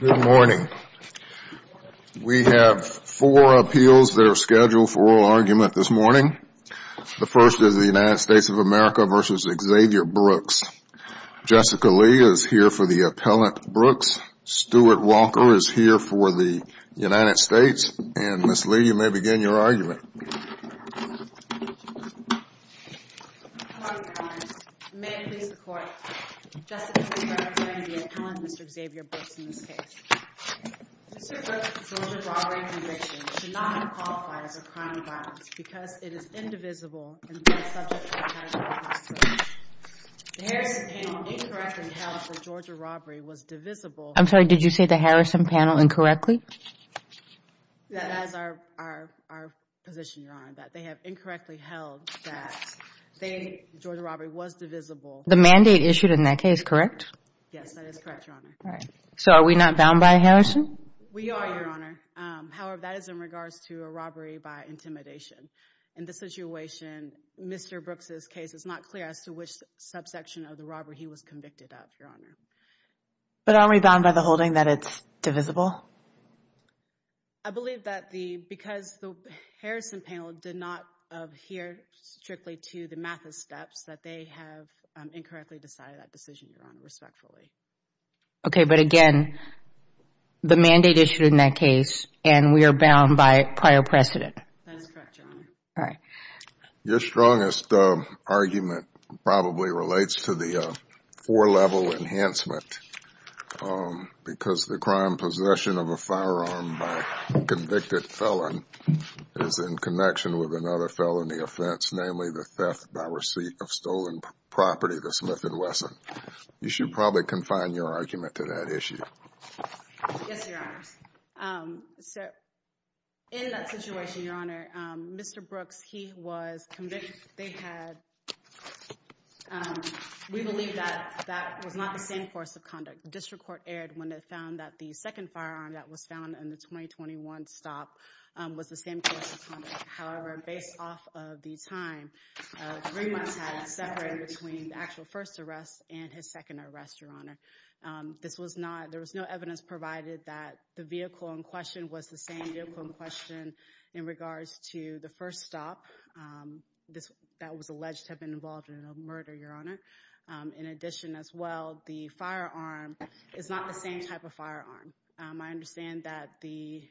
Good morning. We have four appeals that are scheduled for oral argument this morning. The first is the United States of America v. Xavier Brooks. Jessica Lee is here for the appellant Brooks. Stuart Walker is here for the United States. And Ms. Lee, you may begin your argument. Good morning, Your Honors. May it please the Court, Jessica Lee representing the appellant, Mr. Xavier Brooks, in this case. Mr. Brooks' Georgia robbery and eviction should not be qualified as a crime of violence because it is indivisible and subject to the charges of the hospital. The Harrison panel incorrectly held for Georgia robbery was divisible. I'm sorry, did you say the Harrison panel incorrectly? That is our position, Your Honor, that they have incorrectly held that Georgia robbery was divisible. The mandate issued in that case, correct? Yes, that is correct, Your Honor. So are we not bound by Harrison? We are, Your Honor. However, that is in regards to a robbery by intimidation. In this situation, Mr. Brooks' case is not clear as to which subsection of the robbery he was convicted of, Your Honor. But aren't we bound by the holding that it's divisible? I believe that because the Harrison panel did not adhere strictly to the math of steps, that they have incorrectly decided that decision, Your Honor, respectfully. Okay, but again, the mandate issued in that case, and we are bound by prior precedent. That is correct, Your Honor. Your strongest argument probably relates to the four-level enhancement because the crime possession of a firearm by a convicted felon is in connection with another felony offense, namely the theft by receipt of stolen property to Smith & Wesson. You should probably confine your argument to that issue. Yes, Your Honor. So in that situation, Your Honor, Mr. Brooks, he was convicted. They had—we believe that that was not the same course of conduct. The district court erred when it found that the second firearm that was found in the 2021 stop was the same course of conduct. However, based off of the time, three months had it separated between the actual first arrest and his second arrest, Your Honor. This was not—there was no evidence provided that the vehicle in question was the same vehicle in question in regards to the first stop that was alleged to have been involved in a murder, Your Honor. In addition, as well, the firearm is not the same type of firearm. I understand that the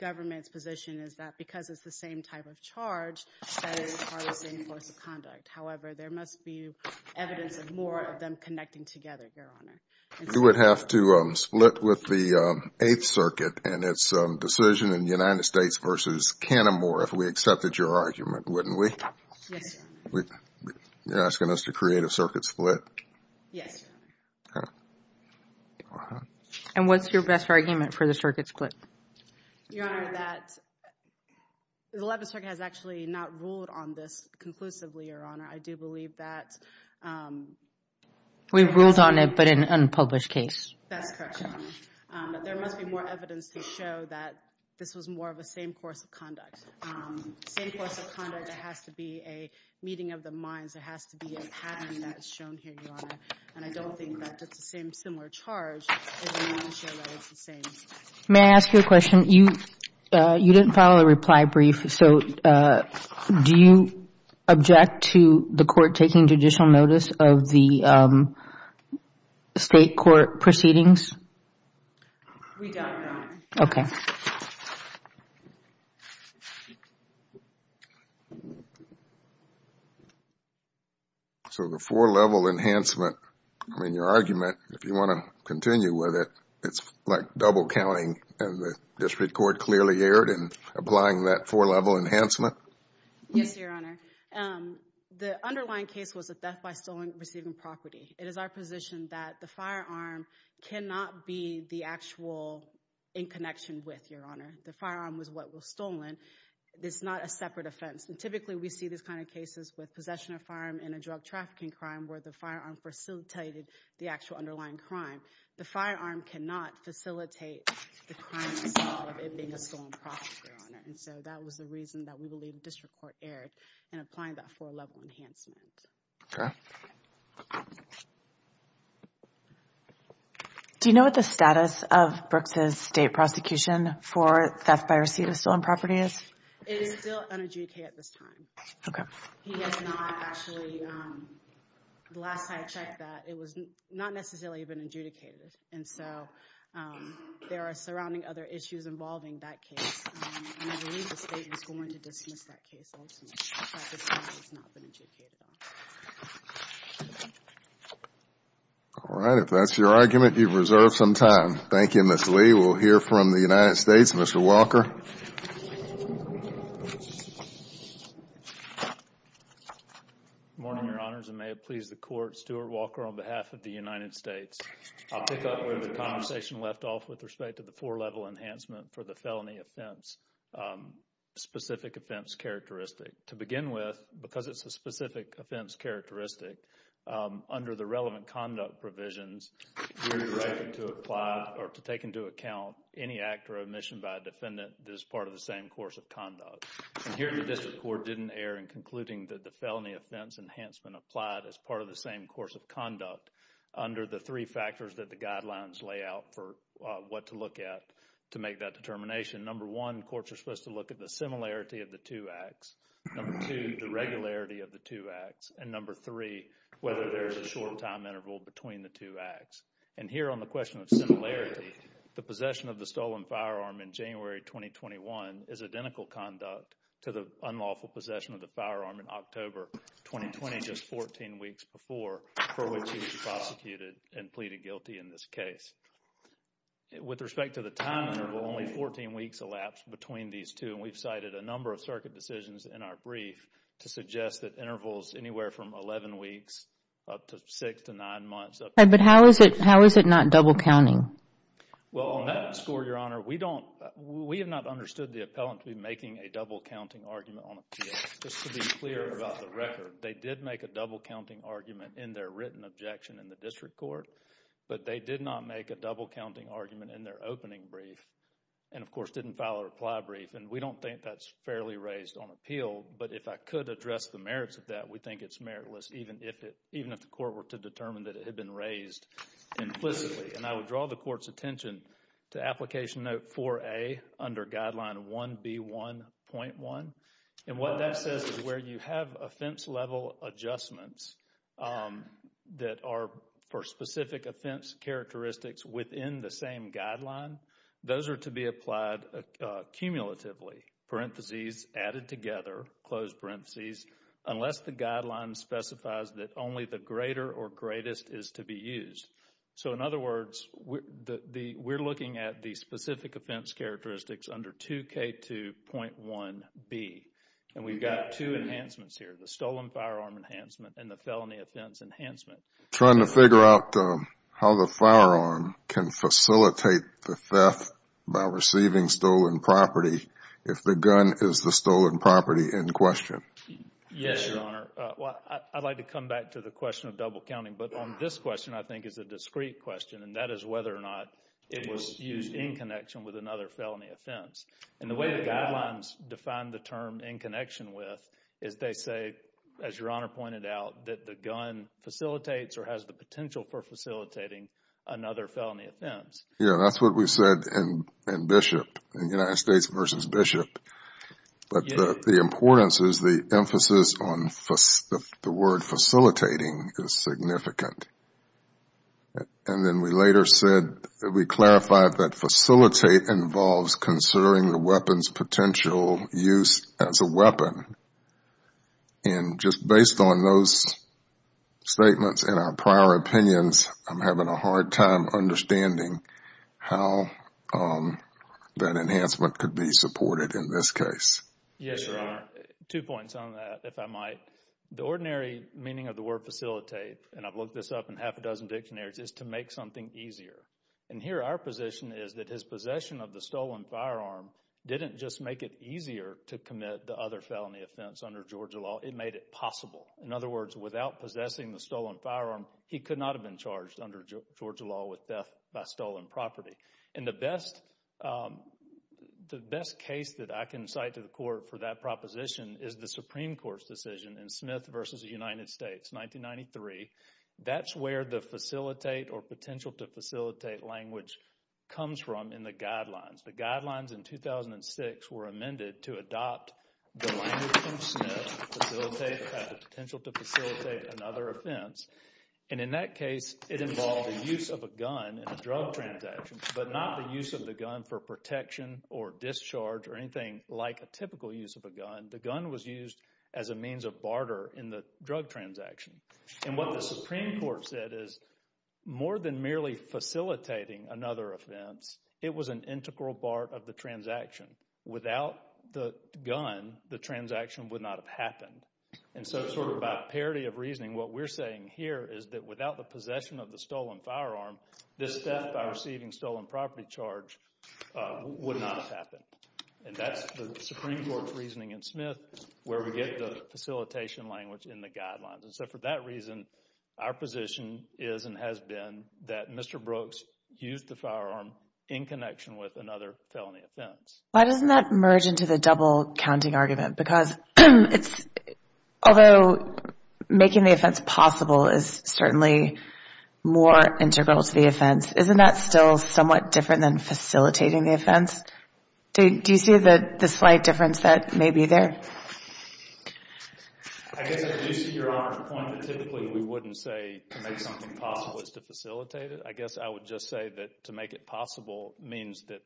government's position is that because it's the same type of charge, that is part of the same course of conduct. However, there must be evidence of more of them connecting together, Your Honor. You would have to split with the Eighth Circuit and its decision in the United States versus Cantermore if we accepted your argument, wouldn't we? Yes, Your Honor. You're asking us to create a circuit split? Yes, Your Honor. Okay. And what's your best argument for the circuit split? Your Honor, that—the 11th Circuit has actually not ruled on this conclusively, Your Honor. I do believe that— We've ruled on it, but in an unpublished case. That's correct, Your Honor. There must be more evidence to show that this was more of the same course of conduct. The same course of conduct, there has to be a meeting of the minds. There has to be a pattern that's shown here, Your Honor. And I don't think that it's the same similar charge. May I ask you a question? You didn't file a reply brief, so do you object to the court taking judicial notice of the state court proceedings? We don't, Your Honor. Okay. So the four-level enhancement, I mean, your argument, if you want to continue with it, it's like double counting and the district court clearly erred in applying that four-level enhancement? Yes, Your Honor. The underlying case was a death by stolen—receiving property. It is our position that the firearm cannot be the actual in connection with, Your Honor. The firearm was what was stolen. It's not a separate offense. And typically, we see these kind of cases with possession of a firearm in a drug trafficking crime where the firearm facilitated the actual underlying crime. The firearm cannot facilitate the crime of it being a stolen property, Your Honor. And so that was the reason that we believe the district court erred in applying that four-level enhancement. Okay. Do you know what the status of Brooks' state prosecution for theft by receipt of stolen property is? It is still unadjudicated at this time. Okay. He has not actually—the last time I checked that, it was not necessarily even adjudicated. And so there are surrounding other issues involving that case, and I believe the state is going to dismiss that case ultimately. The prosecution has not been adjudicated on it. All right. If that's your argument, you've reserved some time. Thank you, Ms. Lee. We'll hear from the United States. Mr. Walker. Good morning, Your Honors, and may it please the Court. Stuart Walker on behalf of the United States. I'll pick up where the conversation left off with respect to the four-level enhancement for the felony offense, specific offense characteristic. To begin with, because it's a specific offense characteristic, under the relevant conduct provisions, you're directed to apply or to take into account any act or omission by a defendant that is part of the same course of conduct. And here the district court didn't err in concluding that the felony offense enhancement applied as part of the same course of conduct under the three factors that the guidelines lay out for what to look at to make that determination. Number one, courts are supposed to look at the similarity of the two acts. Number two, the regularity of the two acts. And number three, whether there's a short time interval between the two acts. And here on the question of similarity, the possession of the stolen firearm in January 2021 is identical conduct to the unlawful possession of the firearm in October 2020, just 14 weeks before for which he was prosecuted and pleaded guilty in this case. With respect to the time interval, only 14 weeks elapsed between these two, and we've cited a number of circuit decisions in our brief to suggest that intervals anywhere from 11 weeks up to 6 to 9 months. But how is it not double counting? Well, on that score, Your Honor, we have not understood the appellant to be making a double counting argument on appeal. Just to be clear about the record, they did make a double counting argument in their written objection in the district court, but they did not make a double counting argument in their opening brief and, of course, didn't file a reply brief. And we don't think that's fairly raised on appeal, but if I could address the merits of that, we think it's meritless, even if the court were to determine that it had been raised implicitly. And I would draw the court's attention to application note 4A under guideline 1B1.1. And what that says is where you have offense level adjustments that are for specific offense characteristics within the same guideline, those are to be applied cumulatively, parentheses, added together, closed parentheses, unless the guideline specifies that only the greater or greatest is to be used. So, in other words, we're looking at the specific offense characteristics under 2K2.1B, and we've got two enhancements here, the stolen firearm enhancement and the felony offense enhancement. Trying to figure out how the firearm can facilitate the theft by receiving stolen property if the gun is the stolen property in question. Yes, Your Honor. I'd like to come back to the question of double counting, but on this question I think is a discrete question, and that is whether or not it was used in connection with another felony offense. And the way the guidelines define the term in connection with is they say, as Your Honor pointed out, that the gun facilitates or has the potential for facilitating another felony offense. Yeah, that's what we said in Bishop, in United States v. Bishop. But the importance is the emphasis on the word facilitating is significant. And then we later said that we clarified that facilitate involves considering the weapon's potential use as a weapon. And just based on those statements and our prior opinions, I'm having a hard time understanding how that enhancement could be supported in this case. Yes, Your Honor. Two points on that, if I might. The ordinary meaning of the word facilitate, and I've looked this up in half a dozen dictionaries, is to make something easier. And here our position is that his possession of the stolen firearm didn't just make it easier to commit the other felony offense under Georgia law, it made it possible. In other words, without possessing the stolen firearm, he could not have been charged under Georgia law with death by stolen property. And the best case that I can cite to the Court for that proposition is the Supreme Court's decision in Smith v. United States, 1993. That's where the facilitate or potential to facilitate language comes from in the guidelines. The guidelines in 2006 were amended to adopt the language in Smith to facilitate the potential to facilitate another offense. And in that case, it involved the use of a gun in a drug transaction, but not the use of the gun for protection or discharge or anything like a typical use of a gun. The gun was used as a means of barter in the drug transaction. And what the Supreme Court said is more than merely facilitating another offense, it was an integral part of the transaction. Without the gun, the transaction would not have happened. And so sort of by parity of reasoning, what we're saying here is that without the possession of the stolen firearm, this theft by receiving stolen property charge would not have happened. And that's the Supreme Court's reasoning in Smith where we get the facilitation language in the guidelines. And so for that reason, our position is and has been that Mr. Brooks used the firearm in connection with another felony offense. Why doesn't that merge into the double-counting argument? Because although making the offense possible is certainly more integral to the offense, isn't that still somewhat different than facilitating the offense? Do you see the slight difference that may be there? I guess I do see your point that typically we wouldn't say to make something possible is to facilitate it. I guess I would just say that to make it possible means that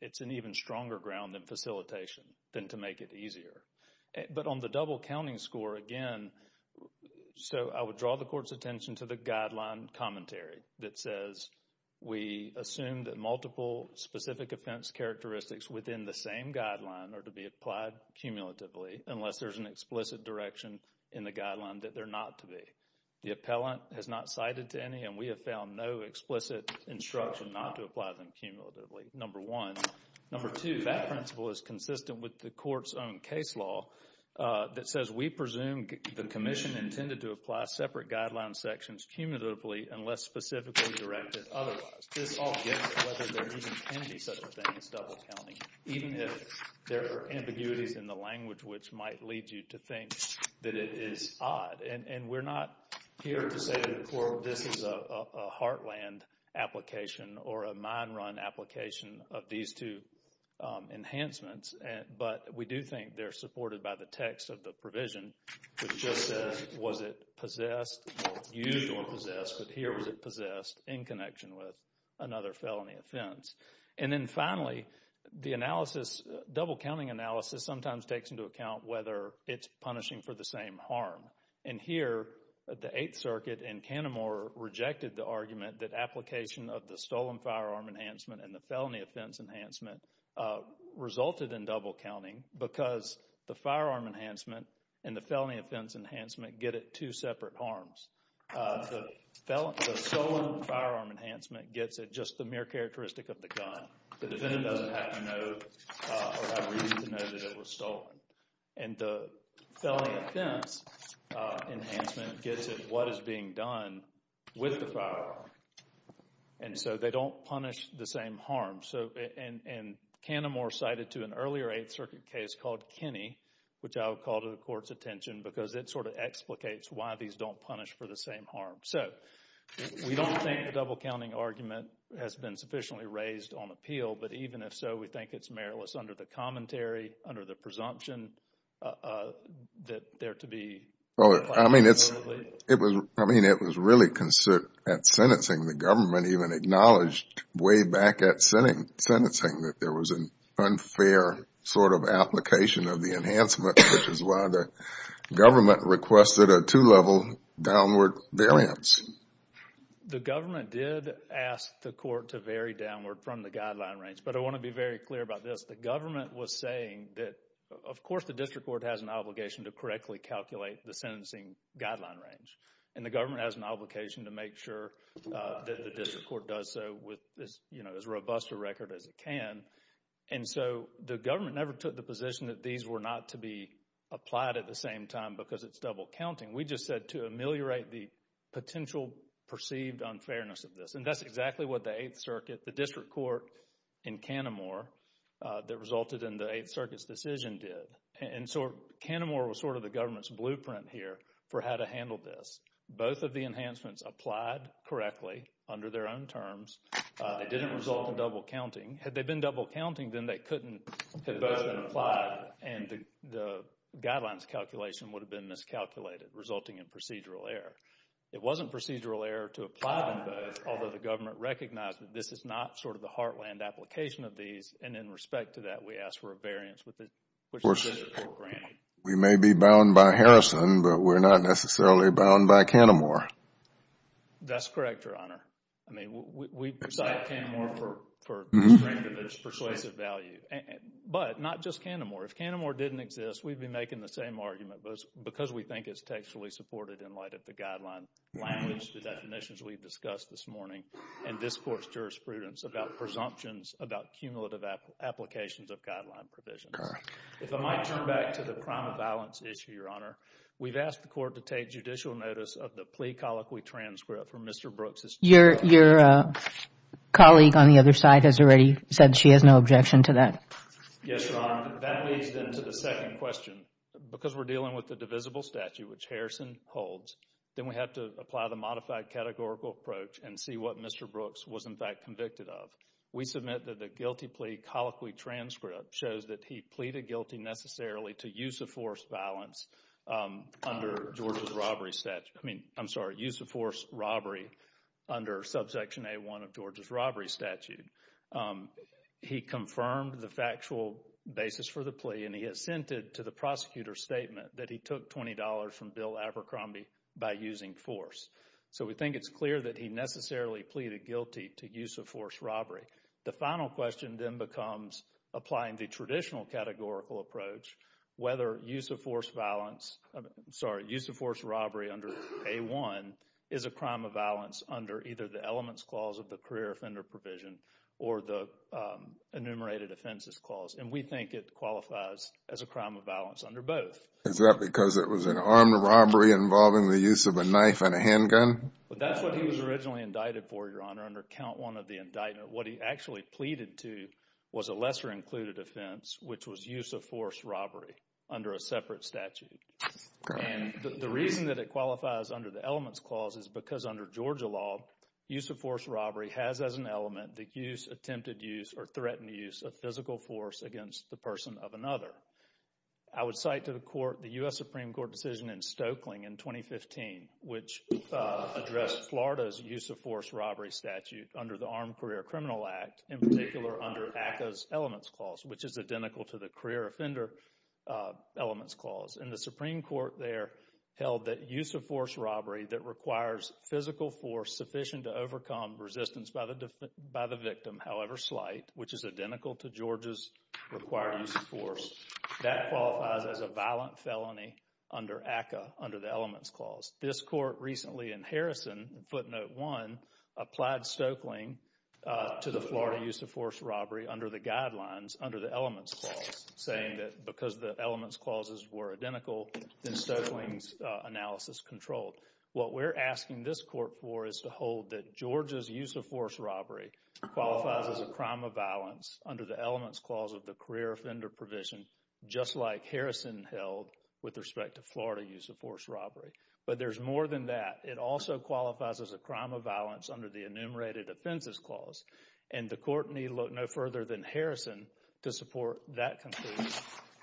it's an even stronger ground in facilitation than to make it easier. But on the double-counting score, again, so I would draw the court's attention to the guideline commentary that says we assume that multiple specific offense characteristics within the same guideline are to be applied cumulatively unless there's an explicit direction in the guideline that they're not to be. The appellant has not cited to any, and we have found no explicit instruction not to apply them cumulatively, number one. Number two, that principle is consistent with the court's own case law that says we presume the commission intended to apply separate guideline sections cumulatively unless specifically directed otherwise. This all gets to whether there even can be such a thing as double-counting, even if there are ambiguities in the language which might lead you to think that it is odd. And we're not here to say to the court this is a heartland application or a mine-run application of these two enhancements, but we do think they're supported by the text of the provision which just says was it possessed or used or possessed, but here is it possessed in connection with another felony offense. And then finally, the analysis, double-counting analysis, sometimes takes into account whether it's punishing for the same harm. And here, the Eighth Circuit in Cantermore rejected the argument that application of the stolen firearm enhancement and the felony offense enhancement resulted in double-counting because the firearm enhancement and the felony offense enhancement get at two separate harms. The stolen firearm enhancement gets at just the mere characteristic of the gun. The defendant doesn't have to know or have reason to know that it was stolen. And the felony offense enhancement gets at what is being done with the firearm. And so they don't punish the same harm. And Cantermore cited to an earlier Eighth Circuit case called Kenny, which I will call to the Court's attention because it sort of explicates why these don't punish for the same harm. So we don't think the double-counting argument has been sufficiently raised on appeal, but even if so, we think it's meritless under the commentary, under the presumption that there to be— I mean, it was really at sentencing. The government even acknowledged way back at sentencing that there was an unfair sort of application of the enhancement, which is why the government requested a two-level downward variance. The government did ask the court to vary downward from the guideline range, but I want to be very clear about this. The government was saying that, of course, the district court has an obligation to correctly calculate the sentencing guideline range, and the government has an obligation to make sure that the district court does so with as robust a record as it can. And so the government never took the position that these were not to be applied at the same time because it's double-counting. We just said to ameliorate the potential perceived unfairness of this, and that's exactly what the Eighth Circuit, the district court in Cantermore that resulted in the Eighth Circuit's decision did. And so Cantermore was sort of the government's blueprint here for how to handle this. Both of the enhancements applied correctly under their own terms. It didn't result in double-counting. Had they been double-counting, then they couldn't have both been applied and the guidelines calculation would have been miscalculated, resulting in procedural error. It wasn't procedural error to apply them both, although the government recognized that this is not sort of the heartland application of these, and in respect to that, we asked for a variance which the district court granted. We may be bound by Harrison, but we're not necessarily bound by Cantermore. That's correct, Your Honor. I mean, we cite Cantermore for the strength of its persuasive value, but not just Cantermore. If Cantermore didn't exist, we'd be making the same argument, but it's because we think it's textually supported in light of the guideline language, the definitions we discussed this morning, and this court's jurisprudence about presumptions, about cumulative applications of guideline provisions. If I might turn back to the crime of violence issue, Your Honor, we've asked the court to take judicial notice of the plea colloquy transcript for Mr. Brooks. Your colleague on the other side has already said she has no objection to that. Yes, Your Honor. That leads, then, to the second question. Because we're dealing with the divisible statute, which Harrison holds, then we have to apply the modified categorical approach and see what Mr. Brooks was, in fact, convicted of. We submit that the guilty plea colloquy transcript shows that he pleaded guilty necessarily to use of force violence under Georgia's robbery statute. I mean, I'm sorry, use of force robbery under subsection A1 of Georgia's robbery statute. He confirmed the factual basis for the plea, and he assented to the prosecutor's statement that he took $20 from Bill Abercrombie by using force. So we think it's clear that he necessarily pleaded guilty to use of force robbery. The final question then becomes, applying the traditional categorical approach, whether use of force violence, I'm sorry, use of force robbery under A1 is a crime of violence under either the elements clause of the career offender provision or the enumerated offenses clause. And we think it qualifies as a crime of violence under both. Is that because it was an armed robbery involving the use of a knife and a handgun? That's what he was originally indicted for, Your Honor, under count one of the indictment. What he actually pleaded to was a lesser included offense, which was use of force robbery under a separate statute. And the reason that it qualifies under the elements clause is because under Georgia law, use of force robbery has as an element the use, attempted use, or threatened use of physical force against the person of another. I would cite to the court the U.S. Supreme Court decision in Stokeling in 2015, which addressed Florida's use of force robbery statute under the Armed Career Criminal Act, in particular under ACCA's elements clause, which is identical to the career offender elements clause. And the Supreme Court there held that use of force robbery that requires physical force sufficient to overcome resistance by the victim, however slight, which is identical to Georgia's required use of force, that qualifies as a violent felony under ACCA under the elements clause. This court recently in Harrison, footnote one, applied Stokeling to the Florida use of force robbery under the guidelines under the elements clause, saying that because the elements clauses were identical, then Stokeling's analysis controlled. What we're asking this court for is to hold that Georgia's use of force robbery qualifies as a crime of violence under the elements clause of the career offender provision, just like Harrison held with respect to Florida use of force robbery. But there's more than that. It also qualifies as a crime of violence under the enumerated offenses clause. And the court need look no further than Harrison to support that conclusion.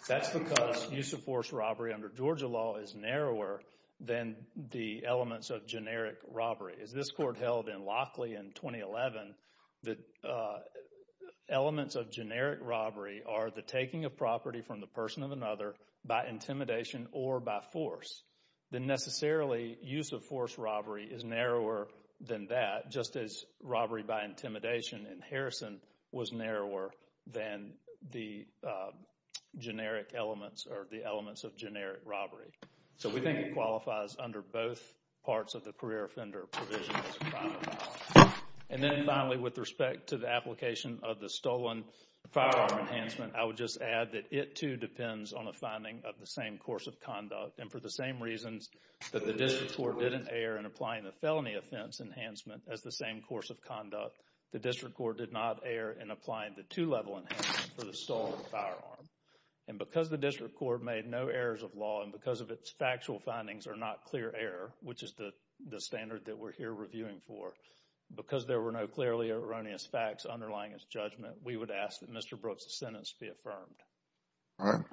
That's because use of force robbery under Georgia law is narrower than the elements of generic robbery. As this court held in Lockley in 2011, the elements of generic robbery are the taking of property from the person of another by intimidation or by force. Then necessarily use of force robbery is narrower than that, just as robbery by intimidation in Harrison was narrower than the generic elements or the elements of generic robbery. So we think it qualifies under both parts of the career offender provision as a crime of violence. And then finally, with respect to the application of the stolen firearm enhancement, I would just add that it too depends on a finding of the same course of conduct and for the same reasons that the district court didn't err in applying the felony offense enhancement as the same course of conduct, the district court did not err in applying the two-level enhancement for the stolen firearm. And because the district court made no errors of law and because of its factual findings are not clear error, which is the standard that we're here reviewing for, because there were no clearly erroneous facts underlying its judgment, we would ask that Mr. Brooks' sentence be affirmed. All right.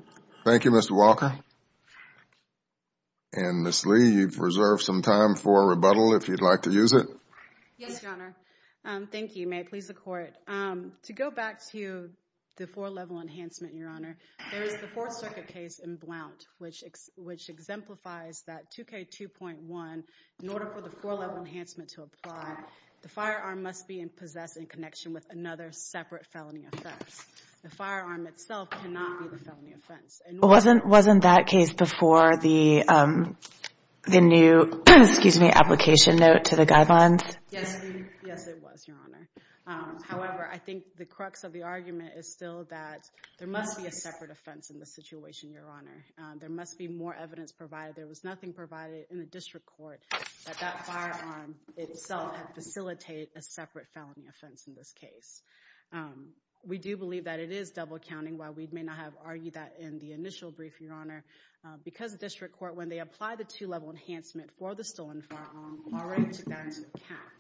Thank you, Mr. Walker. And Ms. Lee, you've reserved some time for rebuttal if you'd like to use it. Yes, Your Honor. Thank you. May it please the Court. To go back to the four-level enhancement, Your Honor, there is the Fourth Circuit case in Blount, which exemplifies that 2K2.1, in order for the four-level enhancement to apply, the firearm must be possessed in connection with another separate felony offense. The firearm itself cannot be the felony offense. Wasn't that case before the new application note to the guidelines? Yes, it was, Your Honor. However, I think the crux of the argument is still that there must be a separate offense in this situation, Your Honor. There must be more evidence provided. There was nothing provided in the district court that that firearm itself had facilitated a separate felony offense in this case. We do believe that it is double-counting, while we may not have argued that in the initial brief, Your Honor, because the district court, when they applied the two-level enhancement for the stolen firearm, already took that into account.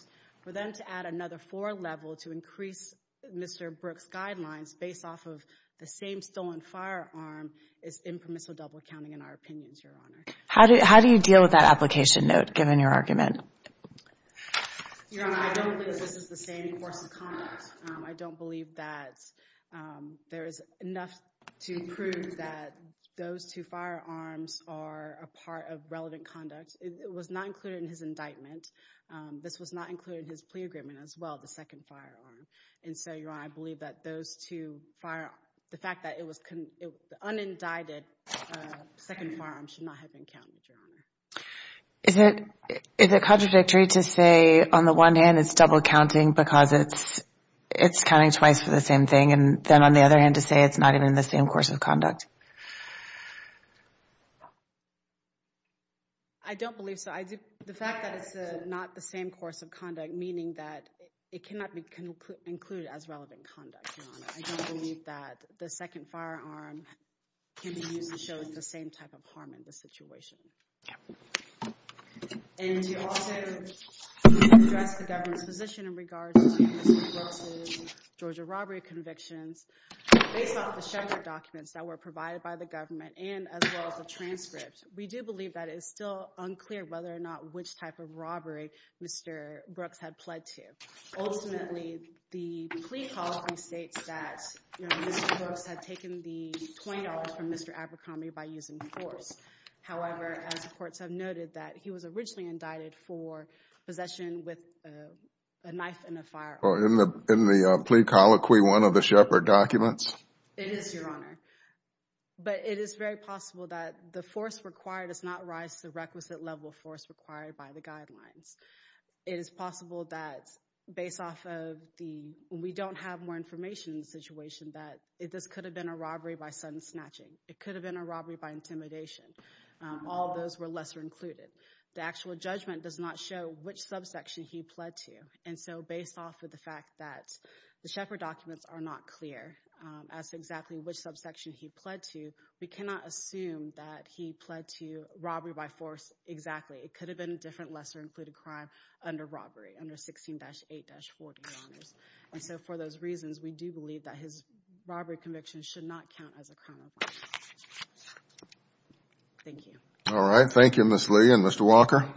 For them to add another four-level to increase Mr. Brooks' guidelines based off of the same stolen firearm is impermissible double-counting, in our opinions, Your Honor. How do you deal with that application note, given your argument? Your Honor, I don't believe this is the same course of conduct. I don't believe that there is enough to prove that those two firearms are a part of relevant conduct. It was not included in his indictment. This was not included in his plea agreement as well, the second firearm. And so, Your Honor, I believe that those two firearms, the fact that it was unindicted, the second firearm should not have been counted, Your Honor. Is it contradictory to say, on the one hand, it's double-counting because it's counting twice for the same thing, and then, on the other hand, to say it's not even the same course of conduct? I don't believe so. The fact that it's not the same course of conduct, meaning that it cannot be included as relevant conduct, Your Honor. I don't believe that the second firearm can be used to show the same type of harm in this situation. And to also address the government's position in regards to Mr. Brooks' Georgia robbery convictions, based off the Shepard documents that were provided by the government and as well as the transcript, we do believe that it is still unclear whether or not which type of robbery Mr. Brooks had pled to. Ultimately, the plea policy states that Mr. Brooks had taken the $20 from Mr. Abercrombie by using force. However, as the courts have noted, that he was originally indicted for possession with a knife and a firearm. In the plea colloquy, one of the Shepard documents? It is, Your Honor. But it is very possible that the force required does not rise to the requisite level of force required by the guidelines. It is possible that, based off of the – when we don't have more information in the situation, that this could have been a robbery by sudden snatching. It could have been a robbery by intimidation. All of those were lesser included. The actual judgment does not show which subsection he pled to. And so based off of the fact that the Shepard documents are not clear as to exactly which subsection he pled to, we cannot assume that he pled to robbery by force exactly. It could have been a different lesser included crime under robbery, under 16-8-40, Your Honors. And so for those reasons, we do believe that his robbery conviction should not count as a crime of violence. Thank you. All right. Thank you, Ms. Lee and Mr. Walker.